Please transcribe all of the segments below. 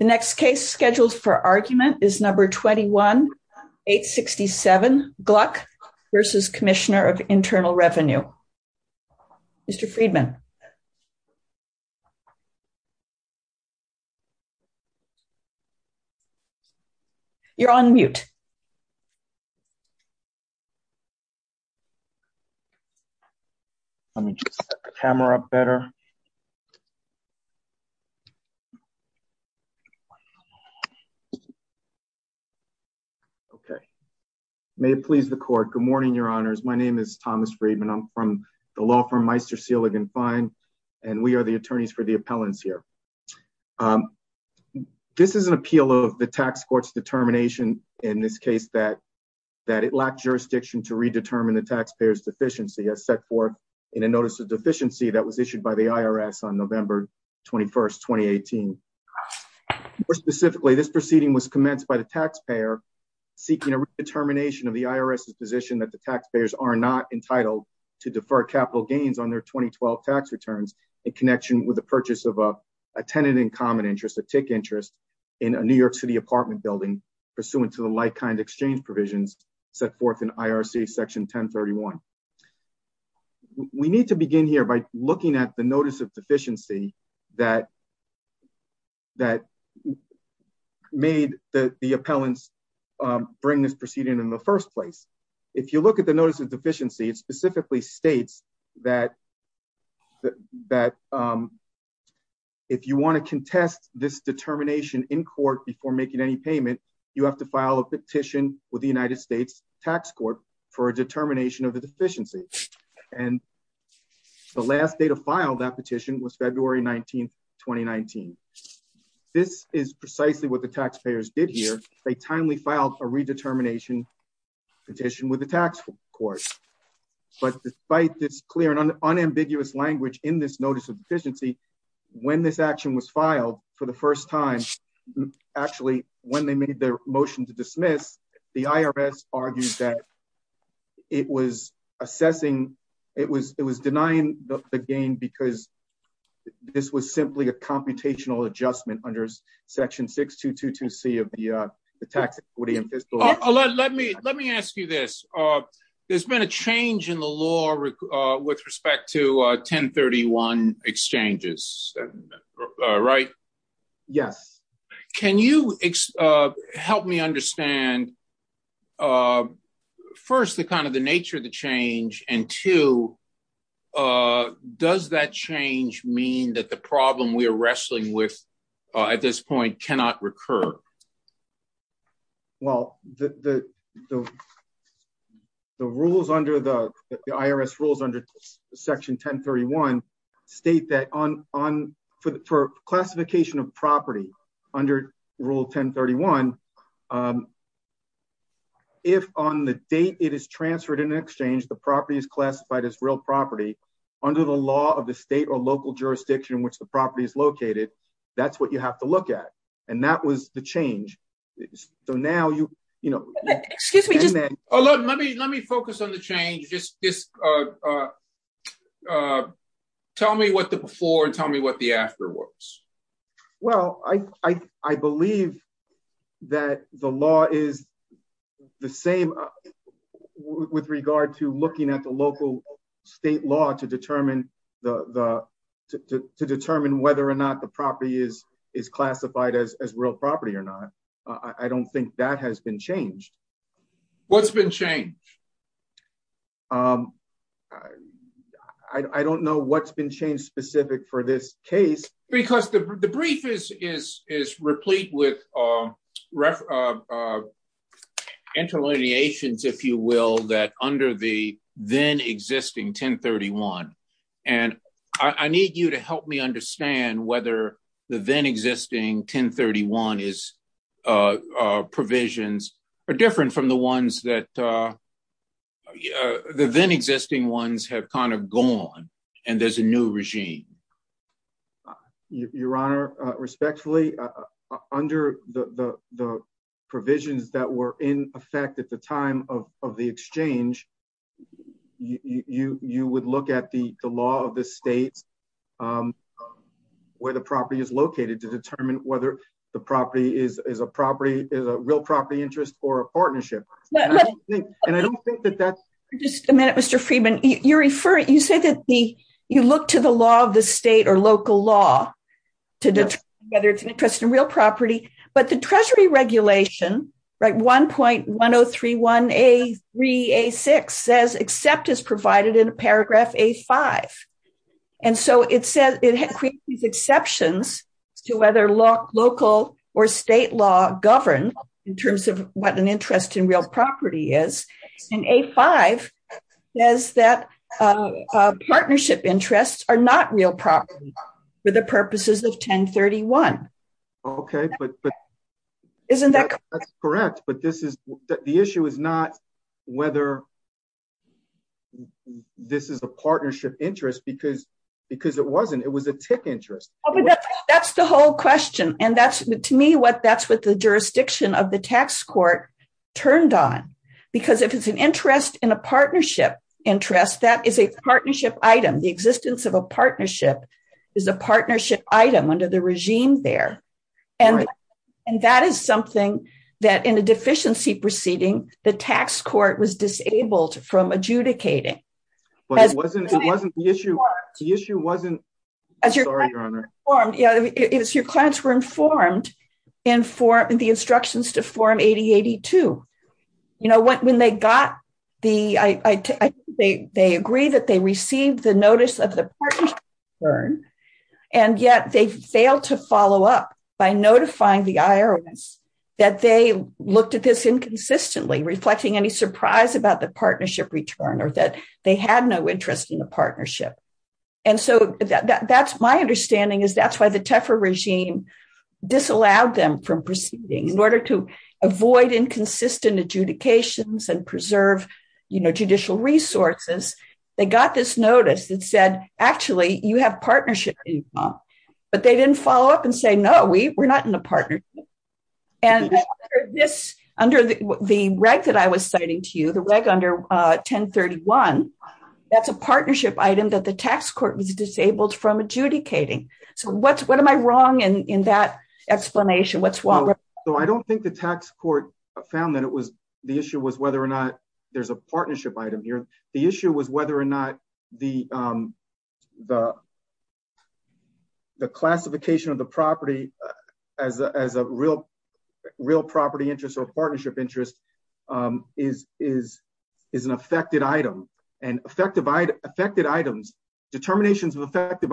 The next case scheduled for argument is number 21-867 Gluck v. Commissioner of Internal Revenue. Mr. Friedman You're on mute. Let me just set the camera up better. Okay. May it please the court. Good morning, your honors. My name is Thomas Friedman. I'm from the law firm Meister Seelig & Fine, and we are the attorneys for the appellants here. This is an appeal of the tax court's determination in this case that it lacked jurisdiction to redetermine the taxpayer's deficiency as set forth in a notice of deficiency that was issued by the court. More specifically, this proceeding was commenced by the taxpayer seeking a redetermination of the IRS's position that the taxpayers are not entitled to defer capital gains on their 2012 tax returns in connection with the purchase of a tenant in common interest, a tick interest, in a New York City apartment building pursuant to the like-kind exchange provisions set forth in IRC section 1031. We need to begin here by looking at the notice of deficiency that made the appellants bring this proceeding in the first place. If you look at the notice of deficiency, it specifically states that if you want to contest this determination in court before making any payment, you have to file a petition with the tax court. This is precisely what the taxpayers did here. They timely filed a redetermination petition with the tax court. But despite this clear and unambiguous language in this notice of deficiency, when this action was filed for the first time, actually, when they made their motion to dismiss, the IRS argued that it was assessing, it was denying the gain because this was simply a computational adjustment under section 6222C of the tax equity and fiscal law. Let me ask you this. There's been a change in the law with respect to 1031 exchanges, right? Yes. Can you help me understand, first, the kind of the nature of the change, and two, does that change mean that the problem we are wrestling with at this point cannot recur? Well, the rules under the IRS rules under section 1031 state that for classification of property, under rule 1031, if on the date it is transferred in an exchange, the property is classified as real property under the law of the state or local jurisdiction in which the property is located, that's what you have to look at. And that was the change. So now you, you know... Excuse me. Let me focus on the change. Just tell me what the before and tell me what the after was. Well, I believe that the law is the same with regard to looking at the local state law to determine whether or not the property is classified as real property or not. I don't think that has been changed. What's been changed? I don't know what's been changed specific for this case. Because the brief is replete with interlineations, if you will, that under the then existing 1031. And I need you to help me understand whether the then existing 1031 provisions are different from the ones that the then existing ones have kind of gone and there's a new regime. Your Honor, respectfully, under the provisions that were in effect at the time of the exchange, you would look at the law of the state where the property is located to determine whether the property is a property, is a real property interest or a partnership. And I don't think that that's... Just a minute, Mr. Friedman. You refer, you say that the, look to the law of the state or local law to determine whether it's an interest in real property. But the treasury regulation, right, 1.1031A3A6 says except is provided in paragraph A5. And so it says, it creates these exceptions to whether local or state law govern in terms of what an interest in real property is. And A5 says that partnership interests are not real property for the purposes of 1031. Okay, but isn't that correct? But this is the issue is not whether this is a partnership interest because it wasn't, it was a tick interest. That's the whole question. And that's to me, that's what the jurisdiction of the tax court turned on. Because if it's an interest in a partnership interest, that is a partnership item. The existence of a partnership is a partnership item under the regime there. And that is something that in a deficiency proceeding, the tax court was disabled from adjudicating. But it wasn't the issue. The issue wasn't... Your clients were informed in the instructions to form 8082. When they got the, they agree that they received the notice of the partnership return. And yet they failed to follow up by notifying the IRS that they looked at this inconsistently reflecting any surprise about the partnership return or that they had no interest in the partnership. And so that's my understanding is that's why the Tefra regime disallowed them from proceeding in order to avoid inconsistent adjudications and preserve judicial resources. They got this notice that said, actually you have partnership income, but they didn't follow up and say, no, we were not in a partnership. And this under the reg that I was citing to you, the reg under 1031, that's a partnership item that tax court was disabled from adjudicating. So what am I wrong in that explanation? I don't think the tax court found that the issue was whether or not there's a partnership item here. The issue was whether or not the classification of the property as a real property interest or determinations of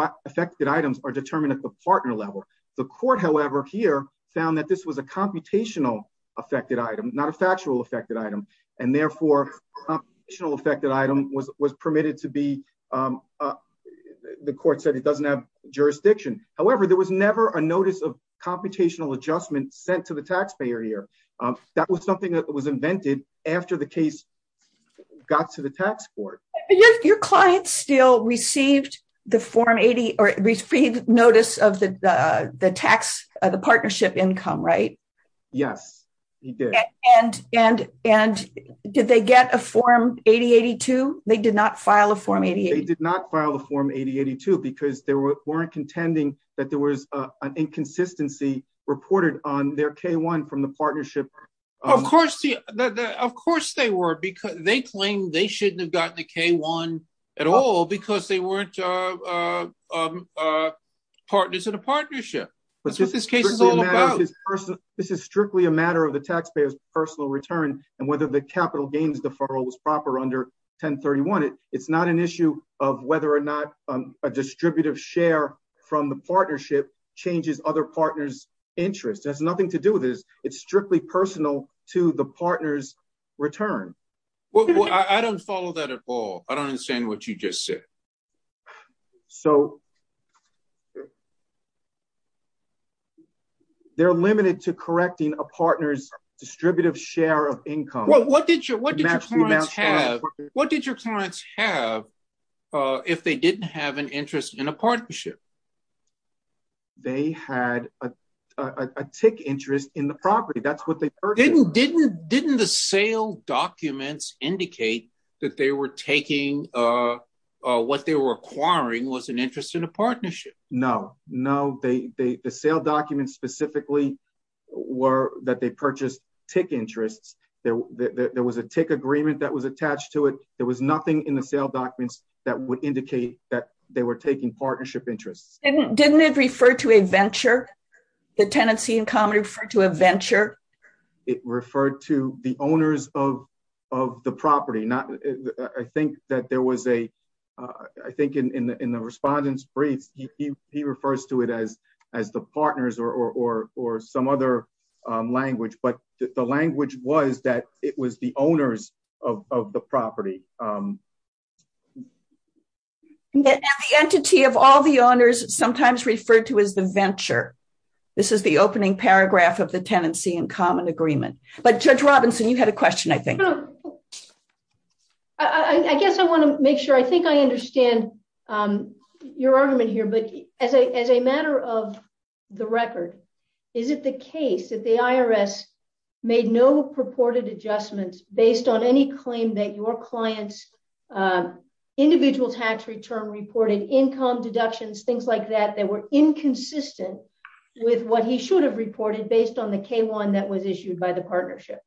affected items are determined at the partner level. The court, however, here found that this was a computational affected item, not a factual affected item. And therefore, computational affected item was permitted to be, the court said it doesn't have jurisdiction. However, there was never a notice of computational adjustment sent to the taxpayer here. That was something that was invented after the case got to the tax court. Your clients still received the form 80 or received notice of the, the tax, the partnership income, right? Yes, he did. And, and, and did they get a form 8082? They did not file a form. They did not file the form 8082 because they weren't contending that there was an inconsistency reported on their K-1 from the partnership. Of course, of course they were because they claimed they shouldn't have gotten the K-1 at all because they weren't partners in a partnership. This is strictly a matter of the taxpayer's personal return and whether the capital gains deferral was proper under 1031. It's not an issue of whether or not a distributive share from the partnership changes other partners' interests. It has nothing to do with this. It's strictly personal to the partner's return. Well, I don't follow that at all. I don't understand what you just said. So they're limited to correcting a partner's distributive share of income. Well, what did your, what did your clients have? What did your clients have if they didn't have an interest in a partnership? They had a, a, a tick interest in the property. That's what they purchased. Didn't, didn't, didn't the sale documents indicate that they were taking what they were acquiring was an interest in a partnership? No, no, they, they, the sale documents specifically were that they purchased tick interests. There, there was a tick agreement that was attached to there was nothing in the sale documents that would indicate that they were taking partnership interests. Didn't, didn't it refer to a venture, the tenancy in common referred to a venture? It referred to the owners of, of the property. Not, I think that there was a, I think in the, in the respondent's briefs, he, he, he refers to it as, as the partners or, or, or some other language, but the language was that it was the owners of, of the property. And the entity of all the owners sometimes referred to as the venture. This is the opening paragraph of the tenancy in common agreement. But Judge Robinson, you had a question, I think. I guess I want to make sure, I think I understand your argument here, but as a, matter of the record, is it the case that the IRS made no purported adjustments based on any claim that your clients individual tax return reported income deductions, things like that, that were inconsistent with what he should have reported based on the K-1 that was issued by the partnership?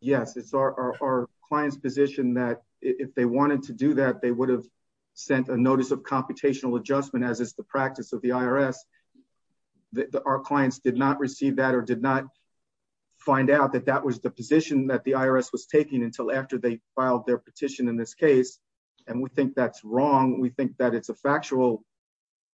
Yes, it's our, our client's position that if they wanted to do that, they would have sent a notice of computational adjustment as is the practice of the IRS. Our clients did not receive that or did not find out that that was the position that the IRS was taking until after they filed their petition in this case. And we think that's wrong. We think that it's a factual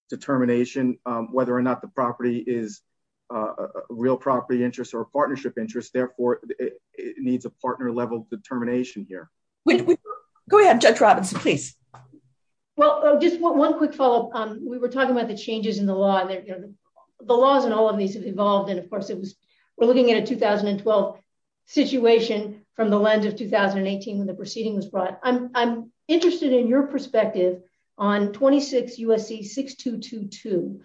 determination, whether or not the property is a real property interest or a partnership interest, therefore it needs a partner level determination here. Go ahead, Judge Robinson, please. Well, just one quick follow-up. We were talking about the changes in the law and the laws and all of these have evolved. And of course it was, we're looking at a 2012 situation from the lens of 2018 when the proceeding was brought. I'm interested in your perspective on 26 USC 6222,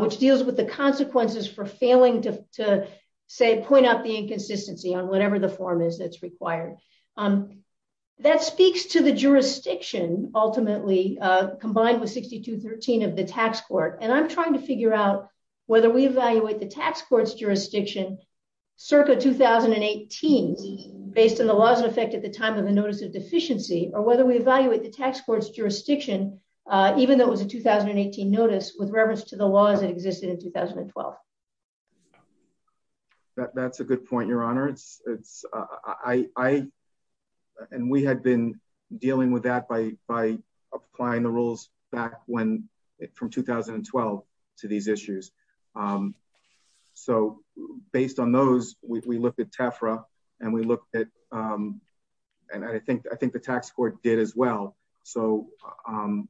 which deals with the consequences for failing to say, point out the inconsistency on whatever the form is that's required. That speaks to the jurisdiction ultimately combined with 6213 of the tax court. And I'm trying to figure out whether we evaluate the tax court's jurisdiction circa 2018 based on the laws in effect at the time of the notice of deficiency, or whether we evaluate the tax court's jurisdiction, even though it was a 2018 notice with reference to the laws that existed in 2012. Yeah, that's a good point. Your honor. It's it's I, and we had been dealing with that by, by applying the rules back when it, from 2012 to these issues. So based on those, we looked at Tefra and we looked at, and I think, I think the tax court did as well. So um,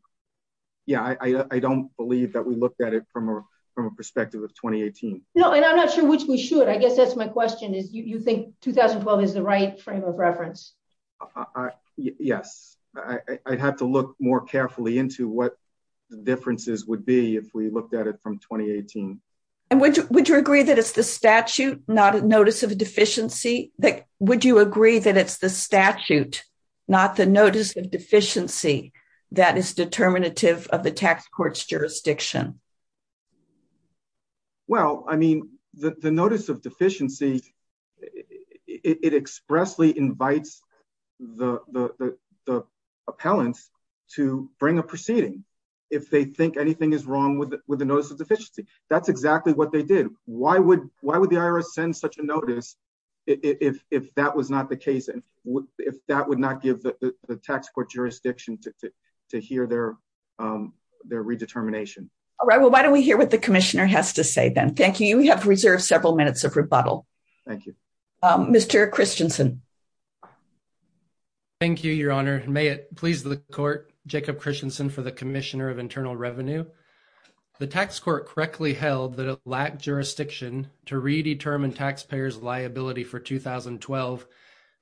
yeah, I, I don't believe that we looked at it from a, from a perspective of 2018. No, and I'm not sure which we should, I guess that's my question is you think 2012 is the right frame of reference. Yes, I'd have to look more carefully into what differences would be if we looked at it from 2018. And would you, would you agree that it's the statute, not a notice of deficiency, that would you agree that it's the statute, not the notice of deficiency, that is determinative of the tax court's jurisdiction. Well, I mean, the notice of deficiency, it expressly invites the, the, the appellants to bring a proceeding. If they think anything is wrong with it with the notice of deficiency, that's exactly what they did. Why would, why would the IRS send such a notice if that was not the case and if that would not give the tax court jurisdiction to hear their, their redetermination. All right. Well, why don't we hear what the commissioner has to say then. Thank you. We have reserved several minutes of rebuttal. Thank you. Mr. Christensen. Thank you, your honor. May it please the court, Jacob Christensen for the commissioner of internal revenue. The tax court correctly held that it lacked jurisdiction to redetermine taxpayers liability for 2012,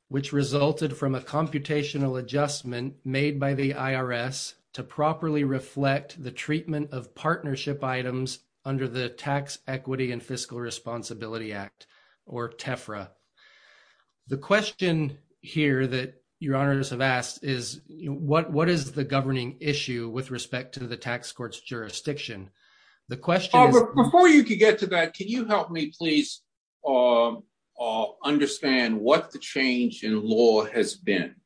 which resulted from a computational adjustment made by the IRS to properly reflect the treatment of partnership items under the tax equity and fiscal responsibility act or TEFRA. The question here that your honors have asked is what, what is the governing issue with respect to the tax court's jurisdiction? The question is, before you could get to that, can you help me please understand what the change in law has been?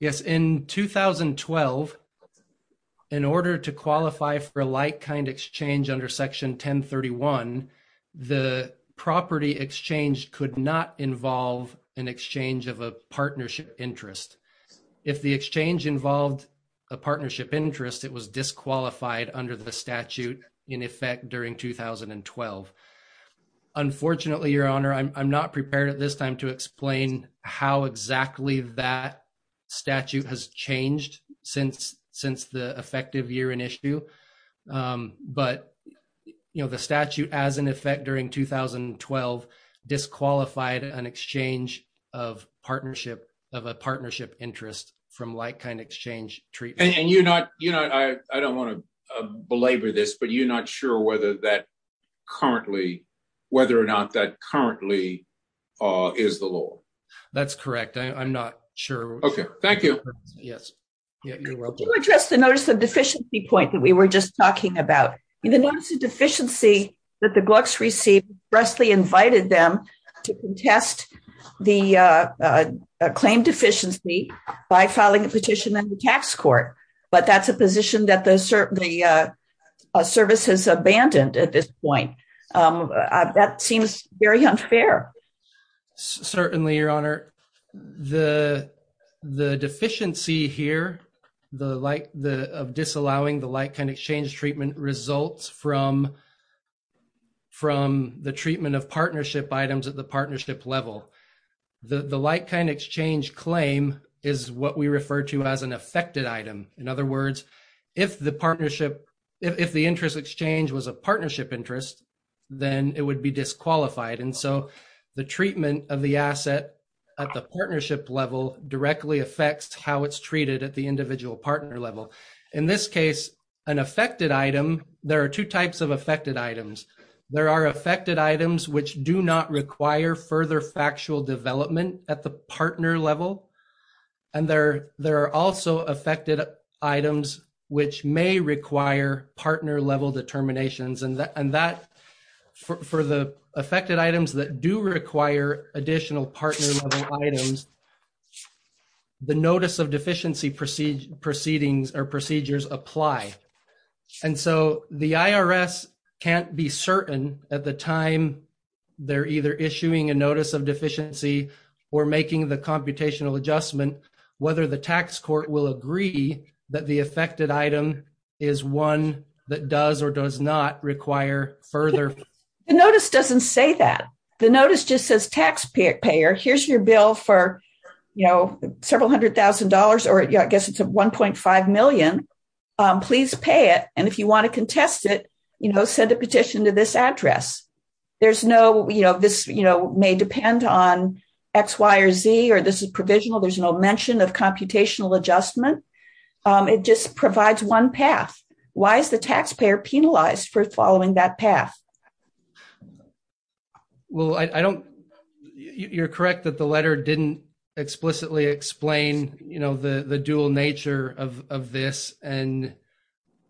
Yes. In 2012, in order to qualify for a like kind exchange under section 1031, the property exchange could not disqualified under the statute in effect during 2012. Unfortunately, your honor, I'm not prepared at this time to explain how exactly that statute has changed since, since the effective year in issue. But you know, the statute as an effect during 2012 disqualified an exchange of partnership of a partnership interest from like kind exchange treatment. And you're not, you know, I don't want to belabor this, but you're not sure whether that currently, whether or not that currently is the law. That's correct. I'm not sure. Okay. Thank you. Yes. You're welcome. To address the notice of deficiency point that we were just talking about, the notice of deficiency that Glucks received, Wesley invited them to contest the claim deficiency by filing a petition in the tax court. But that's a position that the services abandoned at this point. That seems very unfair. Certainly, your honor, the, the deficiency here, the like the disallowing the light kind exchange treatment results from, from the treatment of partnership items at the partnership level. The, the light kind exchange claim is what we refer to as an affected item. In other words, if the partnership, if the interest exchange was a partnership interest, then it would be disqualified. And so the treatment of the asset at the partnership level directly affects how it's item. There are two types of affected items. There are affected items, which do not require further factual development at the partner level. And there, there are also affected items, which may require partner level determinations and that, and that for, for the affected items that do require additional partner items, the notice of deficiency proceedings proceedings or procedures apply. And so the IRS can't be certain at the time they're either issuing a notice of deficiency or making the computational adjustment, whether the tax court will agree that the affected item is one that does or does not require further. The notice doesn't say that the notice just says taxpayer payer. Here's your bill for, you know, several hundred thousand dollars, or I guess it's a 1.5 million. Please pay it. And if you want to contest it, you know, send a petition to this address. There's no, you know, this, you know, may depend on X, Y, or Z, or this is provisional. There's no mention of computational adjustment. It just provides one path. Why is the taxpayer penalized for following that path? Well, I don't, you're correct that the letter didn't explicitly explain, you know, the, the dual nature of, of this. And,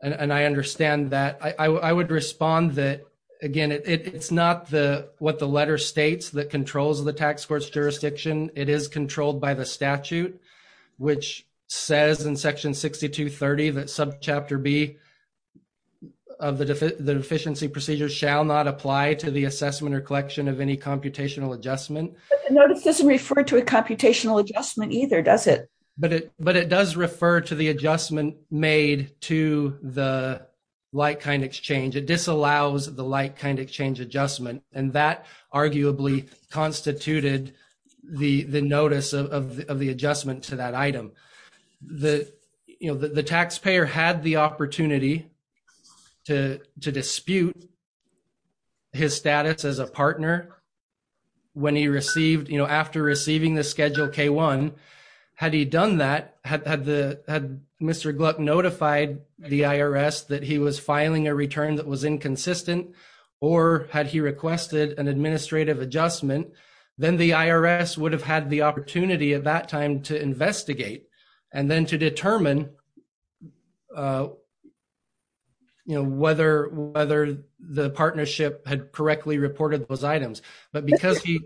and I understand that I would respond that again, it's not the, what the letter states that controls the tax court's jurisdiction. It is controlled by the to the assessment or collection of any computational adjustment. But the notice doesn't refer to a computational adjustment either, does it? But it, but it does refer to the adjustment made to the like-kind exchange. It disallows the like-kind exchange adjustment. And that arguably constituted the, the notice of the adjustment to that item. The, you know, the taxpayer had the opportunity to, to dispute his status as a partner when he received, you know, after receiving the Schedule K-1. Had he done that, had the, had Mr. Gluck notified the IRS that he was filing a return that was inconsistent, or had he requested an administrative adjustment, then the IRS would have had the time to investigate and then to determine, you know, whether, whether the partnership had correctly reported those items. But because he...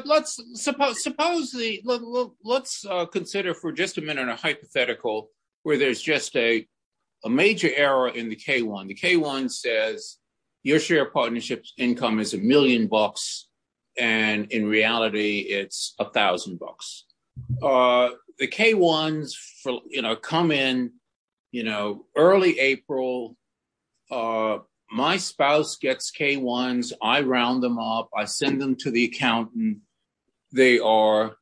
Let's suppose, suppose the, let's consider for just a minute a hypothetical where there's just a, a major error in the K-1. The K-1 says your share of partnership's income is a million bucks. And in reality, it's a thousand bucks. The K-1s, you know, come in, you know, early April. My spouse gets K-1s. I round them up. I send them to the accountant. They are,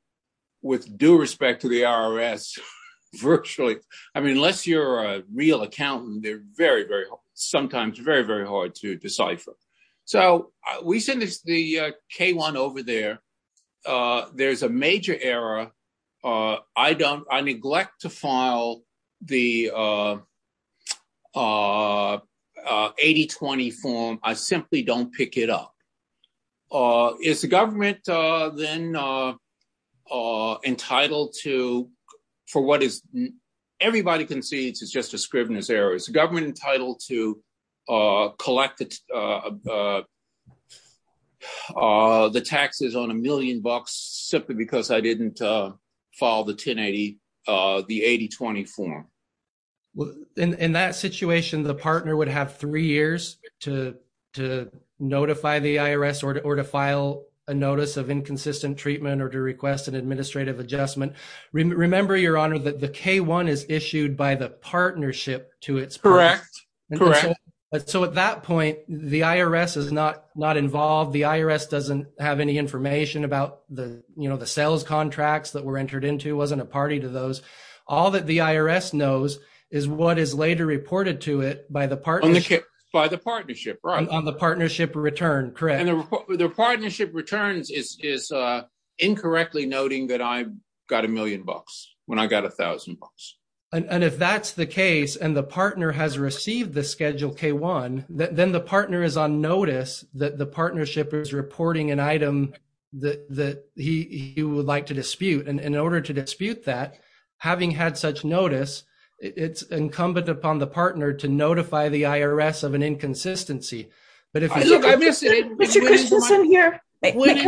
with due respect to the IRS, virtually, I mean, unless you're a real accountant, they're very, sometimes very, very hard to decipher. So we send this, the K-1 over there. There's a major error. I don't, I neglect to file the 80-20 form. I simply don't pick it up. Is the government then entitled to, for what is, everybody concedes it's just a scrivener's error. Is the government entitled to collect the taxes on a million bucks simply because I didn't file the 1080, the 80-20 form? Well, in that situation, the partner would have three years to notify the IRS or to file a notice of inconsistent treatment or to request an administrative adjustment. Remember, Your Honor, that the K-1 is issued by the partnership to its. Correct. Correct. So at that point, the IRS is not, not involved. The IRS doesn't have any information about the, you know, the sales contracts that were entered into. It wasn't a party to those. All that the IRS knows is what is later reported to it by the partnership. By the partnership, right. On the partnership return, correct. The partnership returns is incorrectly noting that I got a million bucks when I got a thousand bucks. And if that's the case and the partner has received the Schedule K-1, then the partner is on notice that the partnership is reporting an item that he would like to dispute. And in order to dispute that, having had such notice, it's incumbent upon the partner to notify the IRS of inconsistency. Mr. Christensen here. Went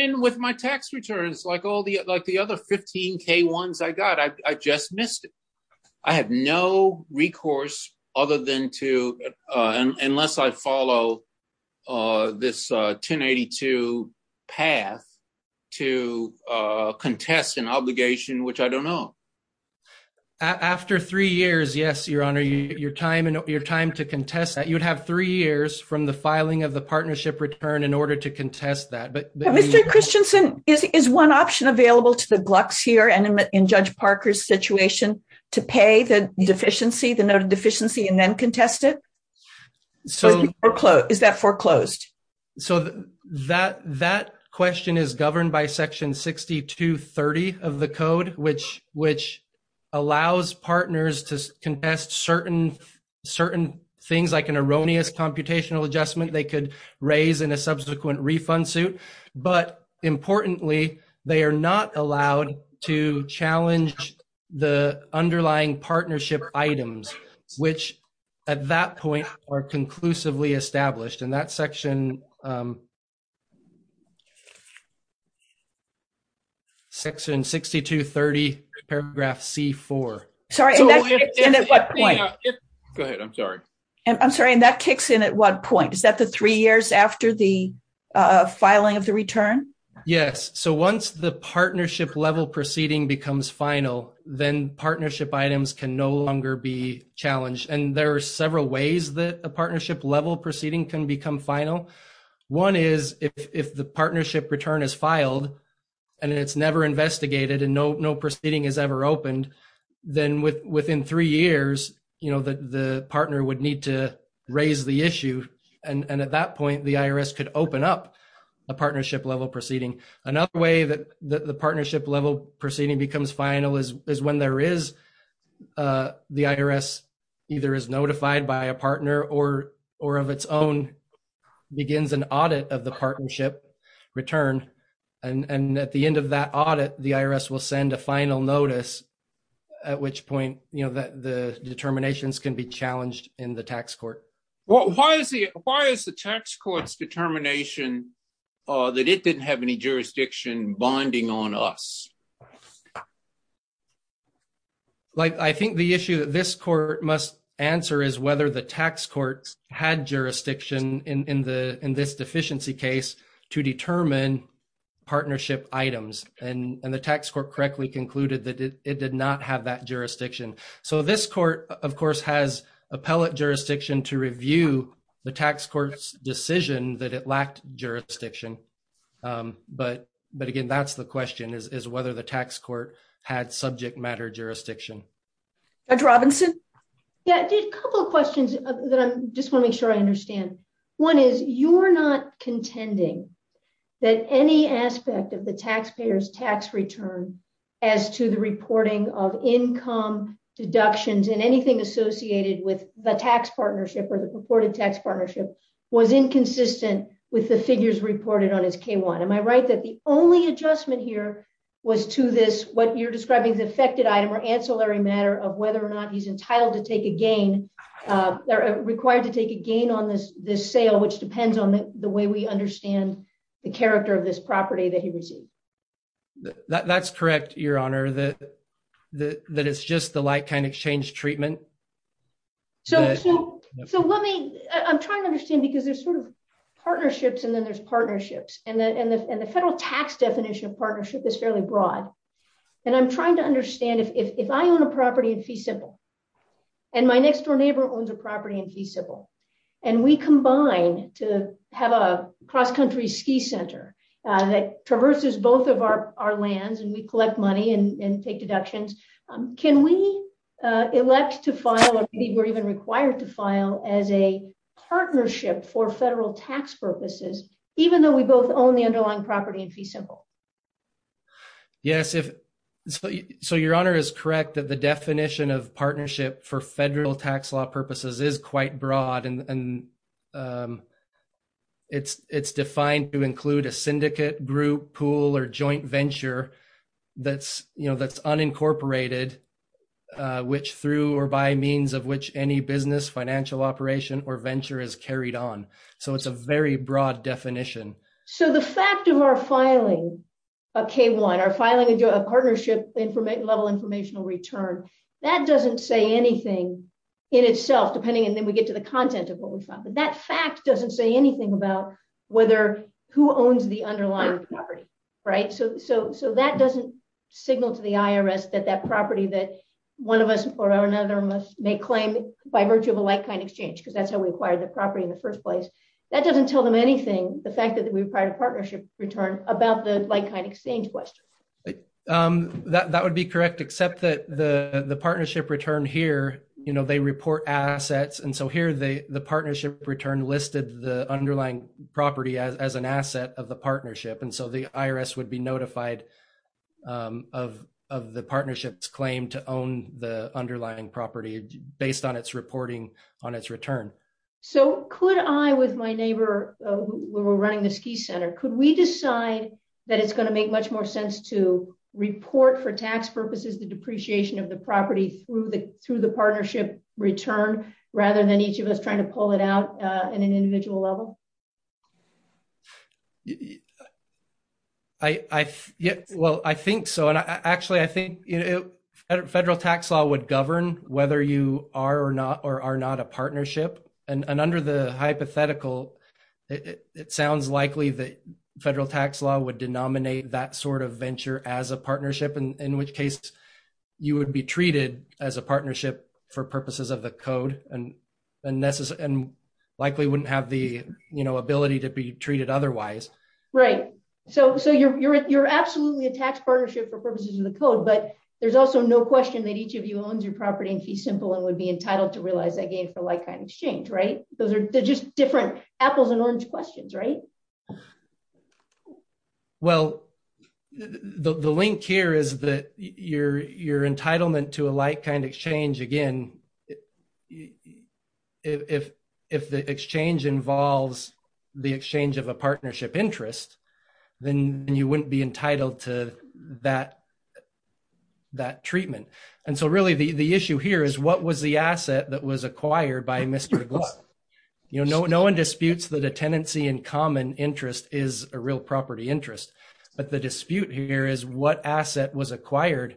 in with my tax returns, like all the, like the other 15 K-1s I got, I just missed it. I have no recourse other than to, unless I follow this 1082 path to contest an obligation, which I don't know. After three years, yes, Your Honor, your time and your time to contest that, you'd have three years from the filing of the partnership return in order to contest that. Mr. Christensen, is one option available to the Glucks here and in Judge Parker's situation to pay the deficiency, the noted deficiency, and then contest it? Is that foreclosed? So that question is governed by section 6230 of the code, which allows partners to contest certain things like an erroneous computational adjustment they could raise in a subsequent refund suit. But importantly, they are not allowed to challenge the underlying partnership items, which at that point are conclusively established. And that section, section 6230 paragraph C4. Sorry, at what point? Go ahead. I'm sorry. I'm sorry. And that kicks in at what point? Is that the three years after the filing of the return? Yes. So once the partnership level proceeding becomes final, then partnership items can no longer be challenged. And there are several ways that a partnership level proceeding can become final. One is if the partnership return is filed and it's never investigated and no proceeding is ever opened, then within three years, you know, the partner would need to raise the issue. And at that point, the IRS could open up a partnership level proceeding. Another way that the partnership level proceeding becomes final is when there is, the IRS either is notified by a partner or of its own, begins an audit of the partnership return. And at the end of that audit, the IRS will send a final notice, at which point, you know, that the determinations can be challenged in the tax court. Why is the tax court's determination that it didn't have any jurisdiction bonding on us? Like, I think the issue that this court must answer is whether the tax court had jurisdiction in this deficiency case to determine partnership items. And the tax court correctly concluded that it did not have that jurisdiction. So this court, of course, has appellate jurisdiction to review the tax court's decision that it lacked jurisdiction. But again, that's the question, is whether the tax court had subject matter jurisdiction. Judge Robinson? Yeah, I did a couple of questions that I just want to make sure I understand. One is, you're not contending that any aspect of the taxpayer's tax return as to the reporting of income, deductions, and anything associated with the tax partnership or the purported tax partnership was inconsistent with the figures reported on his K-1. Am I right that the only adjustment here was to this, what you're describing, the affected item or ancillary matter of whether or not he's entitled to take a gain, required to take a gain on this sale, which depends on the way we understand the character of this property that he received? That's correct, Your Honor, that it's just the like-kind exchange treatment. So let me, I'm trying to understand because there's sort of partnerships and then there's partnerships, and the federal tax definition of partnership is fairly broad. And I'm trying to understand if I own a property in Fee Simple, and my next door neighbor owns a property in Fee Simple, and we combine to have a cross-country ski center that traverses both of our lands, we collect money and take deductions, can we elect to file, or maybe we're even required to file, as a partnership for federal tax purposes, even though we both own the underlying property in Fee Simple? Yes, so Your Honor is correct that the definition of partnership for federal tax law purposes is quite broad, and it's defined to include a syndicate, group, pool, or joint venture that's unincorporated, which through or by means of which any business, financial operation, or venture is carried on. So it's a very broad definition. So the fact of our filing a K-1, our filing a partnership level informational return, that doesn't say anything in itself, depending, and then we get to the content of what we found, but that fact doesn't say anything about whether, who owns the underlying property, right? So that doesn't signal to the IRS that that property that one of us or another must make claim by virtue of a like-kind exchange, because that's how we acquired the property in the first place. That doesn't tell them anything, the fact that we required a partnership return, about the like-kind exchange question. That would be correct, except that the partnership return here, you know, they report assets, and so here the partnership return listed the underlying property as an asset of the partnership, and so the IRS would be notified of the partnership's claim to own the underlying property based on its reporting on its return. So could I, with my neighbor, who were running the Ski Center, could we decide that it's going to make much more sense to report for tax purposes the depreciation of the property through the partnership return, rather than each of us trying to pull it out at an individual level? Well, I think so, and actually, I think, you know, federal tax law would govern whether you are or not a partnership, and under the hypothetical, it sounds likely that federal tax law would denominate that sort of venture as a partnership, in which case, you would be treated as a partnership for purposes of the code, and likely wouldn't have the, you know, ability to be treated otherwise. Right, so you're absolutely a tax partnership for purposes of the code, but there's also no question that each of you owns your property in Key Simple and would be entitled to realize that gain for like-kind exchange, right? Those are just different apples and orange questions, right? Well, the link here is that your entitlement to a like-kind exchange, again, if the exchange involves the exchange of a partnership interest, then you wouldn't be entitled to that treatment, and so really, the issue here is what was the asset that was acquired by Mr. Gluck? You know, no one disputes that a tenancy in common interest is a real property interest, but the dispute here is what asset was acquired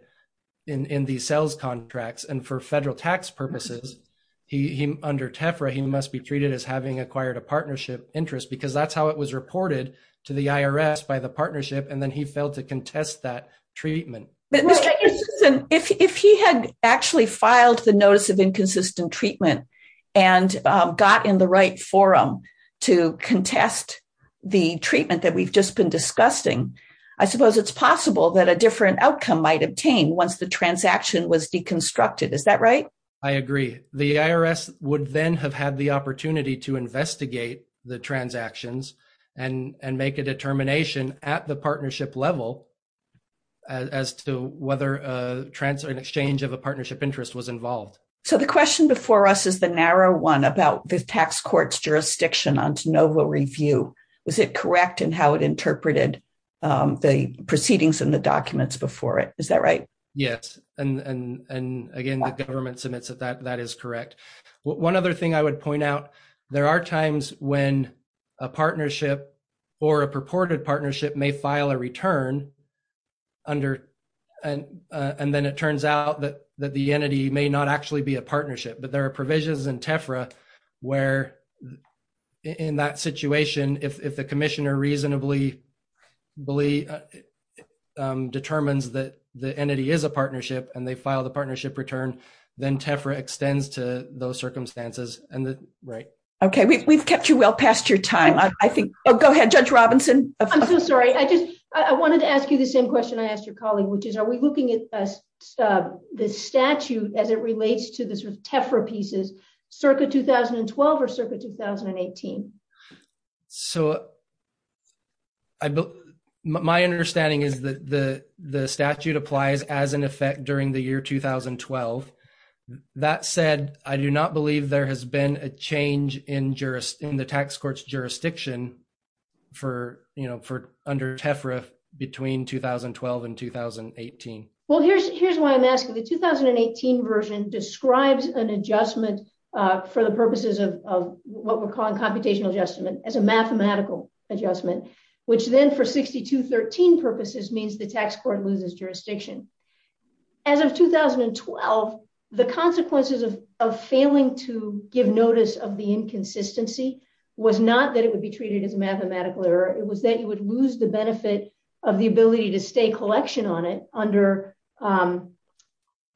in these sales contracts, and for federal tax purposes, under TEFRA, he must be treated as having acquired a partnership interest because that's how it was reported to the IRS, by the partnership, and then he failed to contest that treatment and got in the right forum to contest the treatment that we've just been discussing. I suppose it's possible that a different outcome might obtain once the transaction was deconstructed, is that right? I agree. The IRS would then have had the opportunity to investigate the transactions and make a determination at the partnership level as to whether an exchange of a partnership interest was involved. So the question before us is the narrow one about the tax court's jurisdiction on de novo review. Was it correct in how it interpreted the proceedings and the documents before it? Is that right? Yes, and again, the government submits that that is correct. One other thing I would point out, there are times when a partnership or a purported partnership may file a return and then it turns out that the entity may not actually be a partnership, but there are provisions in TEFRA where, in that situation, if the commissioner reasonably determines that the entity is a partnership and they file the partnership return, then TEFRA extends to those circumstances. Okay, we've kept you well past your time. Oh, go ahead, Judge Robinson. I'm so sorry. I wanted to ask you the same question I asked your colleague, which is, are we looking at the statute as it relates to the TEFRA pieces circa 2012 or circa 2018? So my understanding is that the statute applies as an effect during the for under TEFRA between 2012 and 2018. Well, here's why I'm asking. The 2018 version describes an adjustment for the purposes of what we're calling computational adjustment as a mathematical adjustment, which then for 6213 purposes means the tax court loses jurisdiction. As of 2012, the consequences of failing to give notice of the inconsistency was not that it would be treated as a mathematical error. It was that you would lose the benefit of the ability to stay collection on it under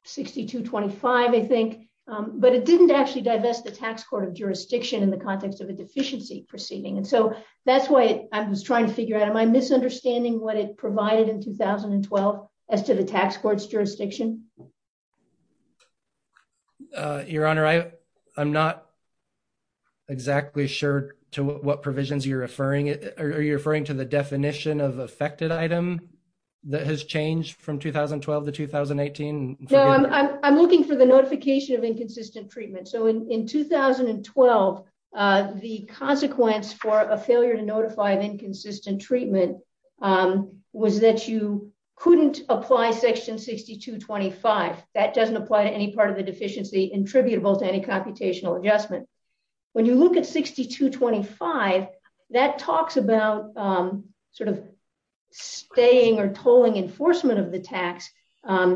6225, I think, but it didn't actually divest the tax court of jurisdiction in the context of a deficiency proceeding. And so that's why I was trying to figure out, am I misunderstanding what it provided in 2012 as to the tax court's jurisdiction? Your Honor, I'm not exactly sure to what provisions you're referring to. Are you referring to the definition of affected item that has changed from 2012 to 2018? No, I'm looking for the notification of inconsistent treatment. So in 2012, the consequence for a failure to notify of inconsistent treatment was that you couldn't apply section 6225. That doesn't apply to any part of the deficiency attributable to any computational adjustment. When you look at 6225, that talks about sort of staying or tolling enforcement of the tax. But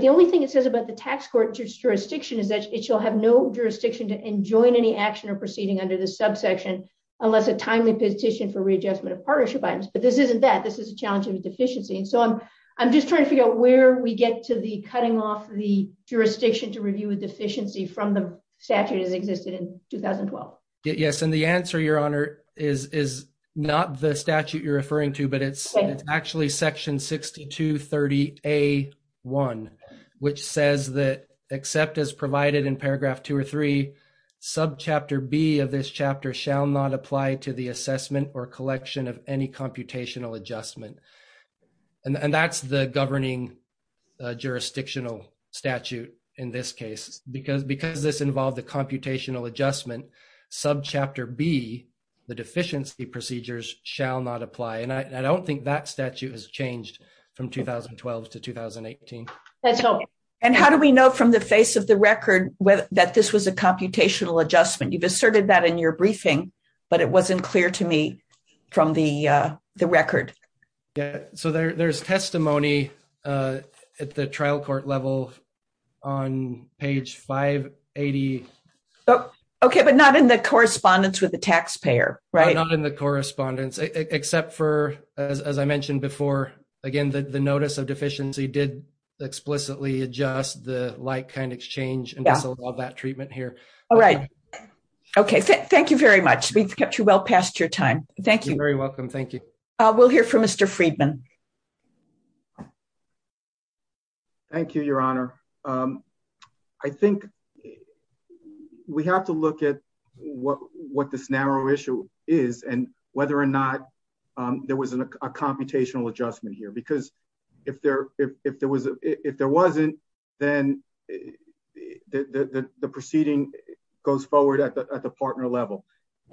the only thing it says about the tax court jurisdiction is that it shall have no jurisdiction to enjoin any action or proceeding under the subsection unless a timely petition for readjustment of partnership items. But this isn't that. This is a challenge of deficiency. And so I'm just trying to figure out where we get to the cutting off the jurisdiction to review a deficiency from the statute as existed in 2012. Yes. And the answer, Your Honor, is not the statute you're referring to, but it's actually section 6230A1, which says that except as provided in paragraph two or three, subchapter B of this chapter shall not apply to the assessment or collection of any computational adjustment. And that's the governing jurisdictional statute in this case. Because this involved the computational adjustment, subchapter B, the deficiency procedures shall not apply. And I don't think that statute has changed from 2012 to 2018. And how do we know from the face of the adjustment? You've asserted that in your briefing, but it wasn't clear to me from the record. Yeah. So there's testimony at the trial court level on page 580. Okay. But not in the correspondence with the taxpayer, right? Not in the correspondence, except for, as I mentioned before, again, the notice of deficiency did explicitly adjust the like kind exchange and disallowed that treatment here. All right. Okay. Thank you very much. We've kept you well past your time. Thank you. You're very welcome. Thank you. We'll hear from Mr. Friedman. Thank you, Your Honor. I think we have to look at what this narrow issue is and whether or not there was a computational adjustment here. Because if there wasn't, then the proceeding goes forward at the partner level.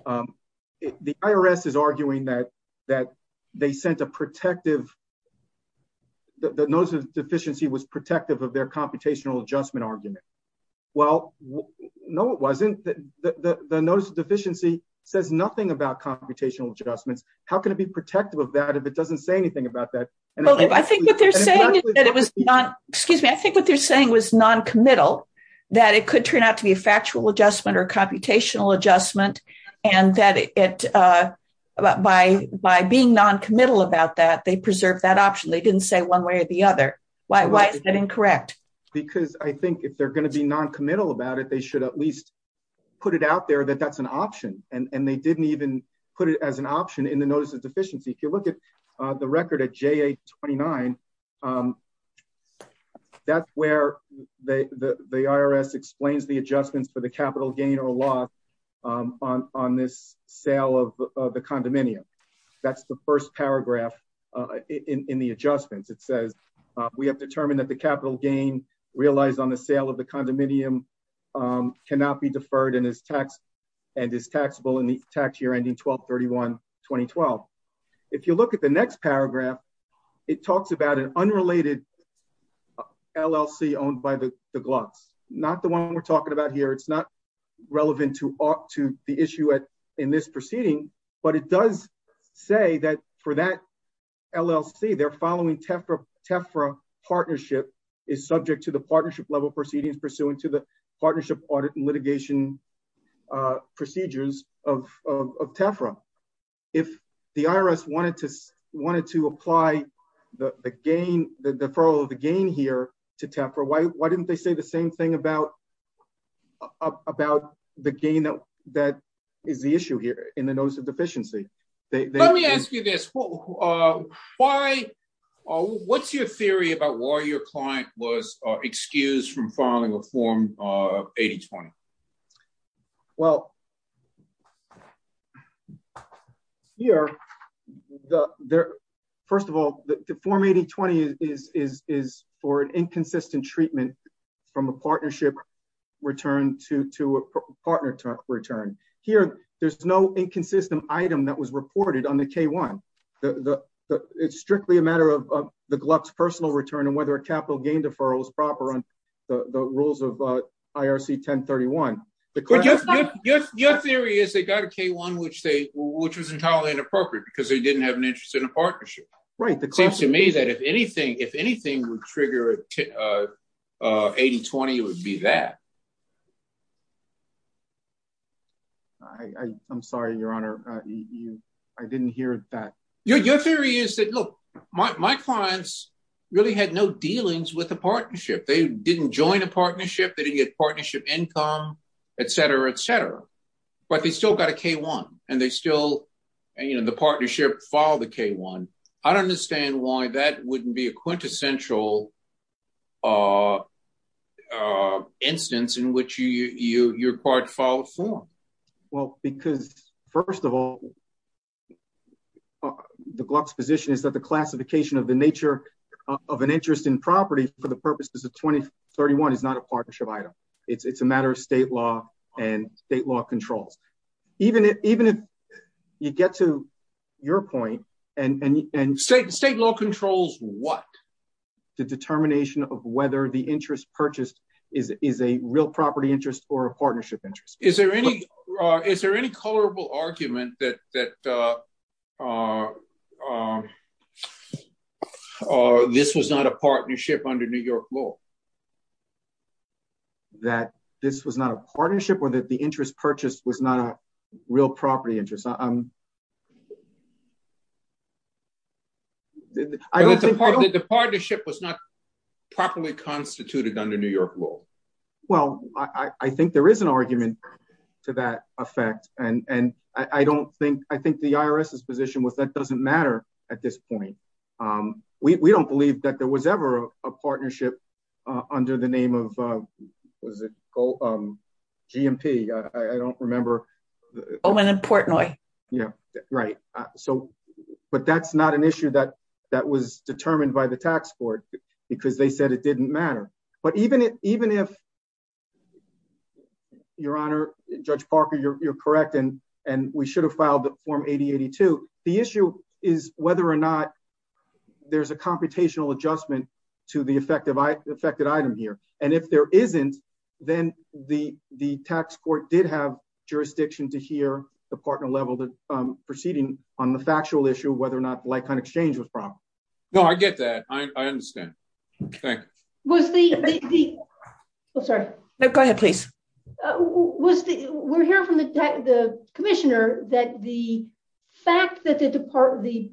The IRS is arguing that the notice of deficiency was protective of their computational adjustment argument. Well, no, it wasn't. The notice of deficiency was protective of that if it doesn't say anything about that. I think what they're saying was non-committal, that it could turn out to be a factual adjustment or computational adjustment, and that by being non-committal about that, they preserved that option. They didn't say one way or the other. Why is that incorrect? Because I think if they're going to be non-committal about it, they should at least put it out there that that's an option. And they didn't even put it as an option in the notice deficiency. If you look at the record at JA-29, that's where the IRS explains the adjustments for the capital gain or loss on this sale of the condominium. That's the first paragraph in the adjustments. It says, we have determined that the capital gain realized on the sale of the condominium. If you look at the next paragraph, it talks about an unrelated LLC owned by the Glucks, not the one we're talking about here. It's not relevant to the issue in this proceeding, but it does say that for that LLC, they're following TEFRA partnership, is subject to the partnership level proceedings pursuant to the partnership audit and litigation procedures of TEFRA. If the IRS wanted to apply the gain, the deferral of the gain here to TEFRA, why didn't they say the same thing about the gain that is the issue here in the notice of deficiency? Let me ask you this. What's your theory about why your client was not able to apply the gain? Well, here, first of all, the form 8020 is for an inconsistent treatment from a partnership return to a partner return. Here, there's no inconsistent item that was reported on the K-1. It's strictly a matter of the Glucks personal return and whether a capital gain deferral is IRC 1031. Your theory is they got a K-1, which was entirely inappropriate because they didn't have an interest in a partnership. It seems to me that if anything would trigger 8020, it would be that. I'm sorry, your honor. I didn't hear that. Your theory is that, look, my clients really had no dealings with the partnership. They didn't join a partnership. They didn't get partnership income, et cetera, et cetera, but they still got a K-1 and the partnership followed the K-1. I don't understand why that wouldn't be a quintessential instance in which your part followed form. Well, because, first of all, the Glucks position is that the classification of the nature of an interest in property for the purposes of 2031 is not a partnership item. It's a matter of state law and state law controls. Even if you get to your point and- State law controls what? The determination of whether the interest purchased is a real property interest or a partnership interest. Is there any colorable argument that this was not a partnership under New York law? That this was not a partnership or that the interest purchased was not a real property interest? The partnership was not properly constituted under New York law. Well, I think there is an argument to that effect. I think the IRS's position was that doesn't matter at this point. We don't believe that there was ever a partnership under the name of GMP. I don't remember. Oman and Portnoy. But that's not an issue that was determined by the tax court because they said it didn't matter. But even if, your honor, Judge Parker, you're correct and we should have filed the form 8082, the issue is whether or not there's a computational adjustment to the affected item here. And if there isn't, then the tax court did have jurisdiction to hear the partner level proceeding on the factual issue, whether or not like-kind exchange was proper. No, I get that. I understand. Thank you. Was the- Sorry. No, go ahead, please. Was the- We're hearing from the commissioner that the fact that the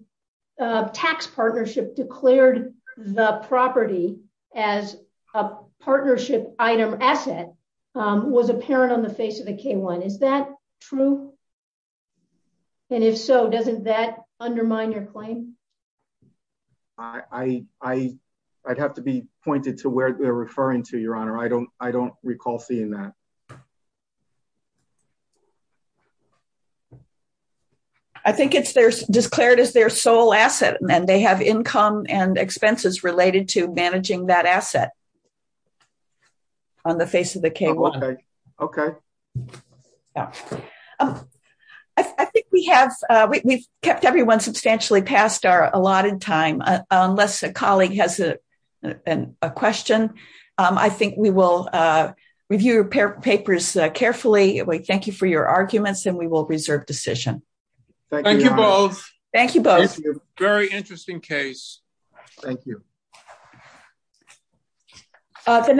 tax partnership declared the property as a partnership item asset was apparent on the face of the K-1. Is that true? And if so, doesn't that undermine your claim? I'd have to be pointed to where they're referring to, your honor. I don't recall seeing that. I think it's there's declared as their sole asset and they have income and expenses related to managing that asset on the face of the K-1. Okay. I think we have, we've kept everyone substantially past our allotted time. Unless a colleague has a question, I think we will review your papers carefully. We thank you for your arguments and we will reserve decision. Thank you, your honor. Thank you both. Thank you both. Thank you. Very interesting case. Thank you. The next-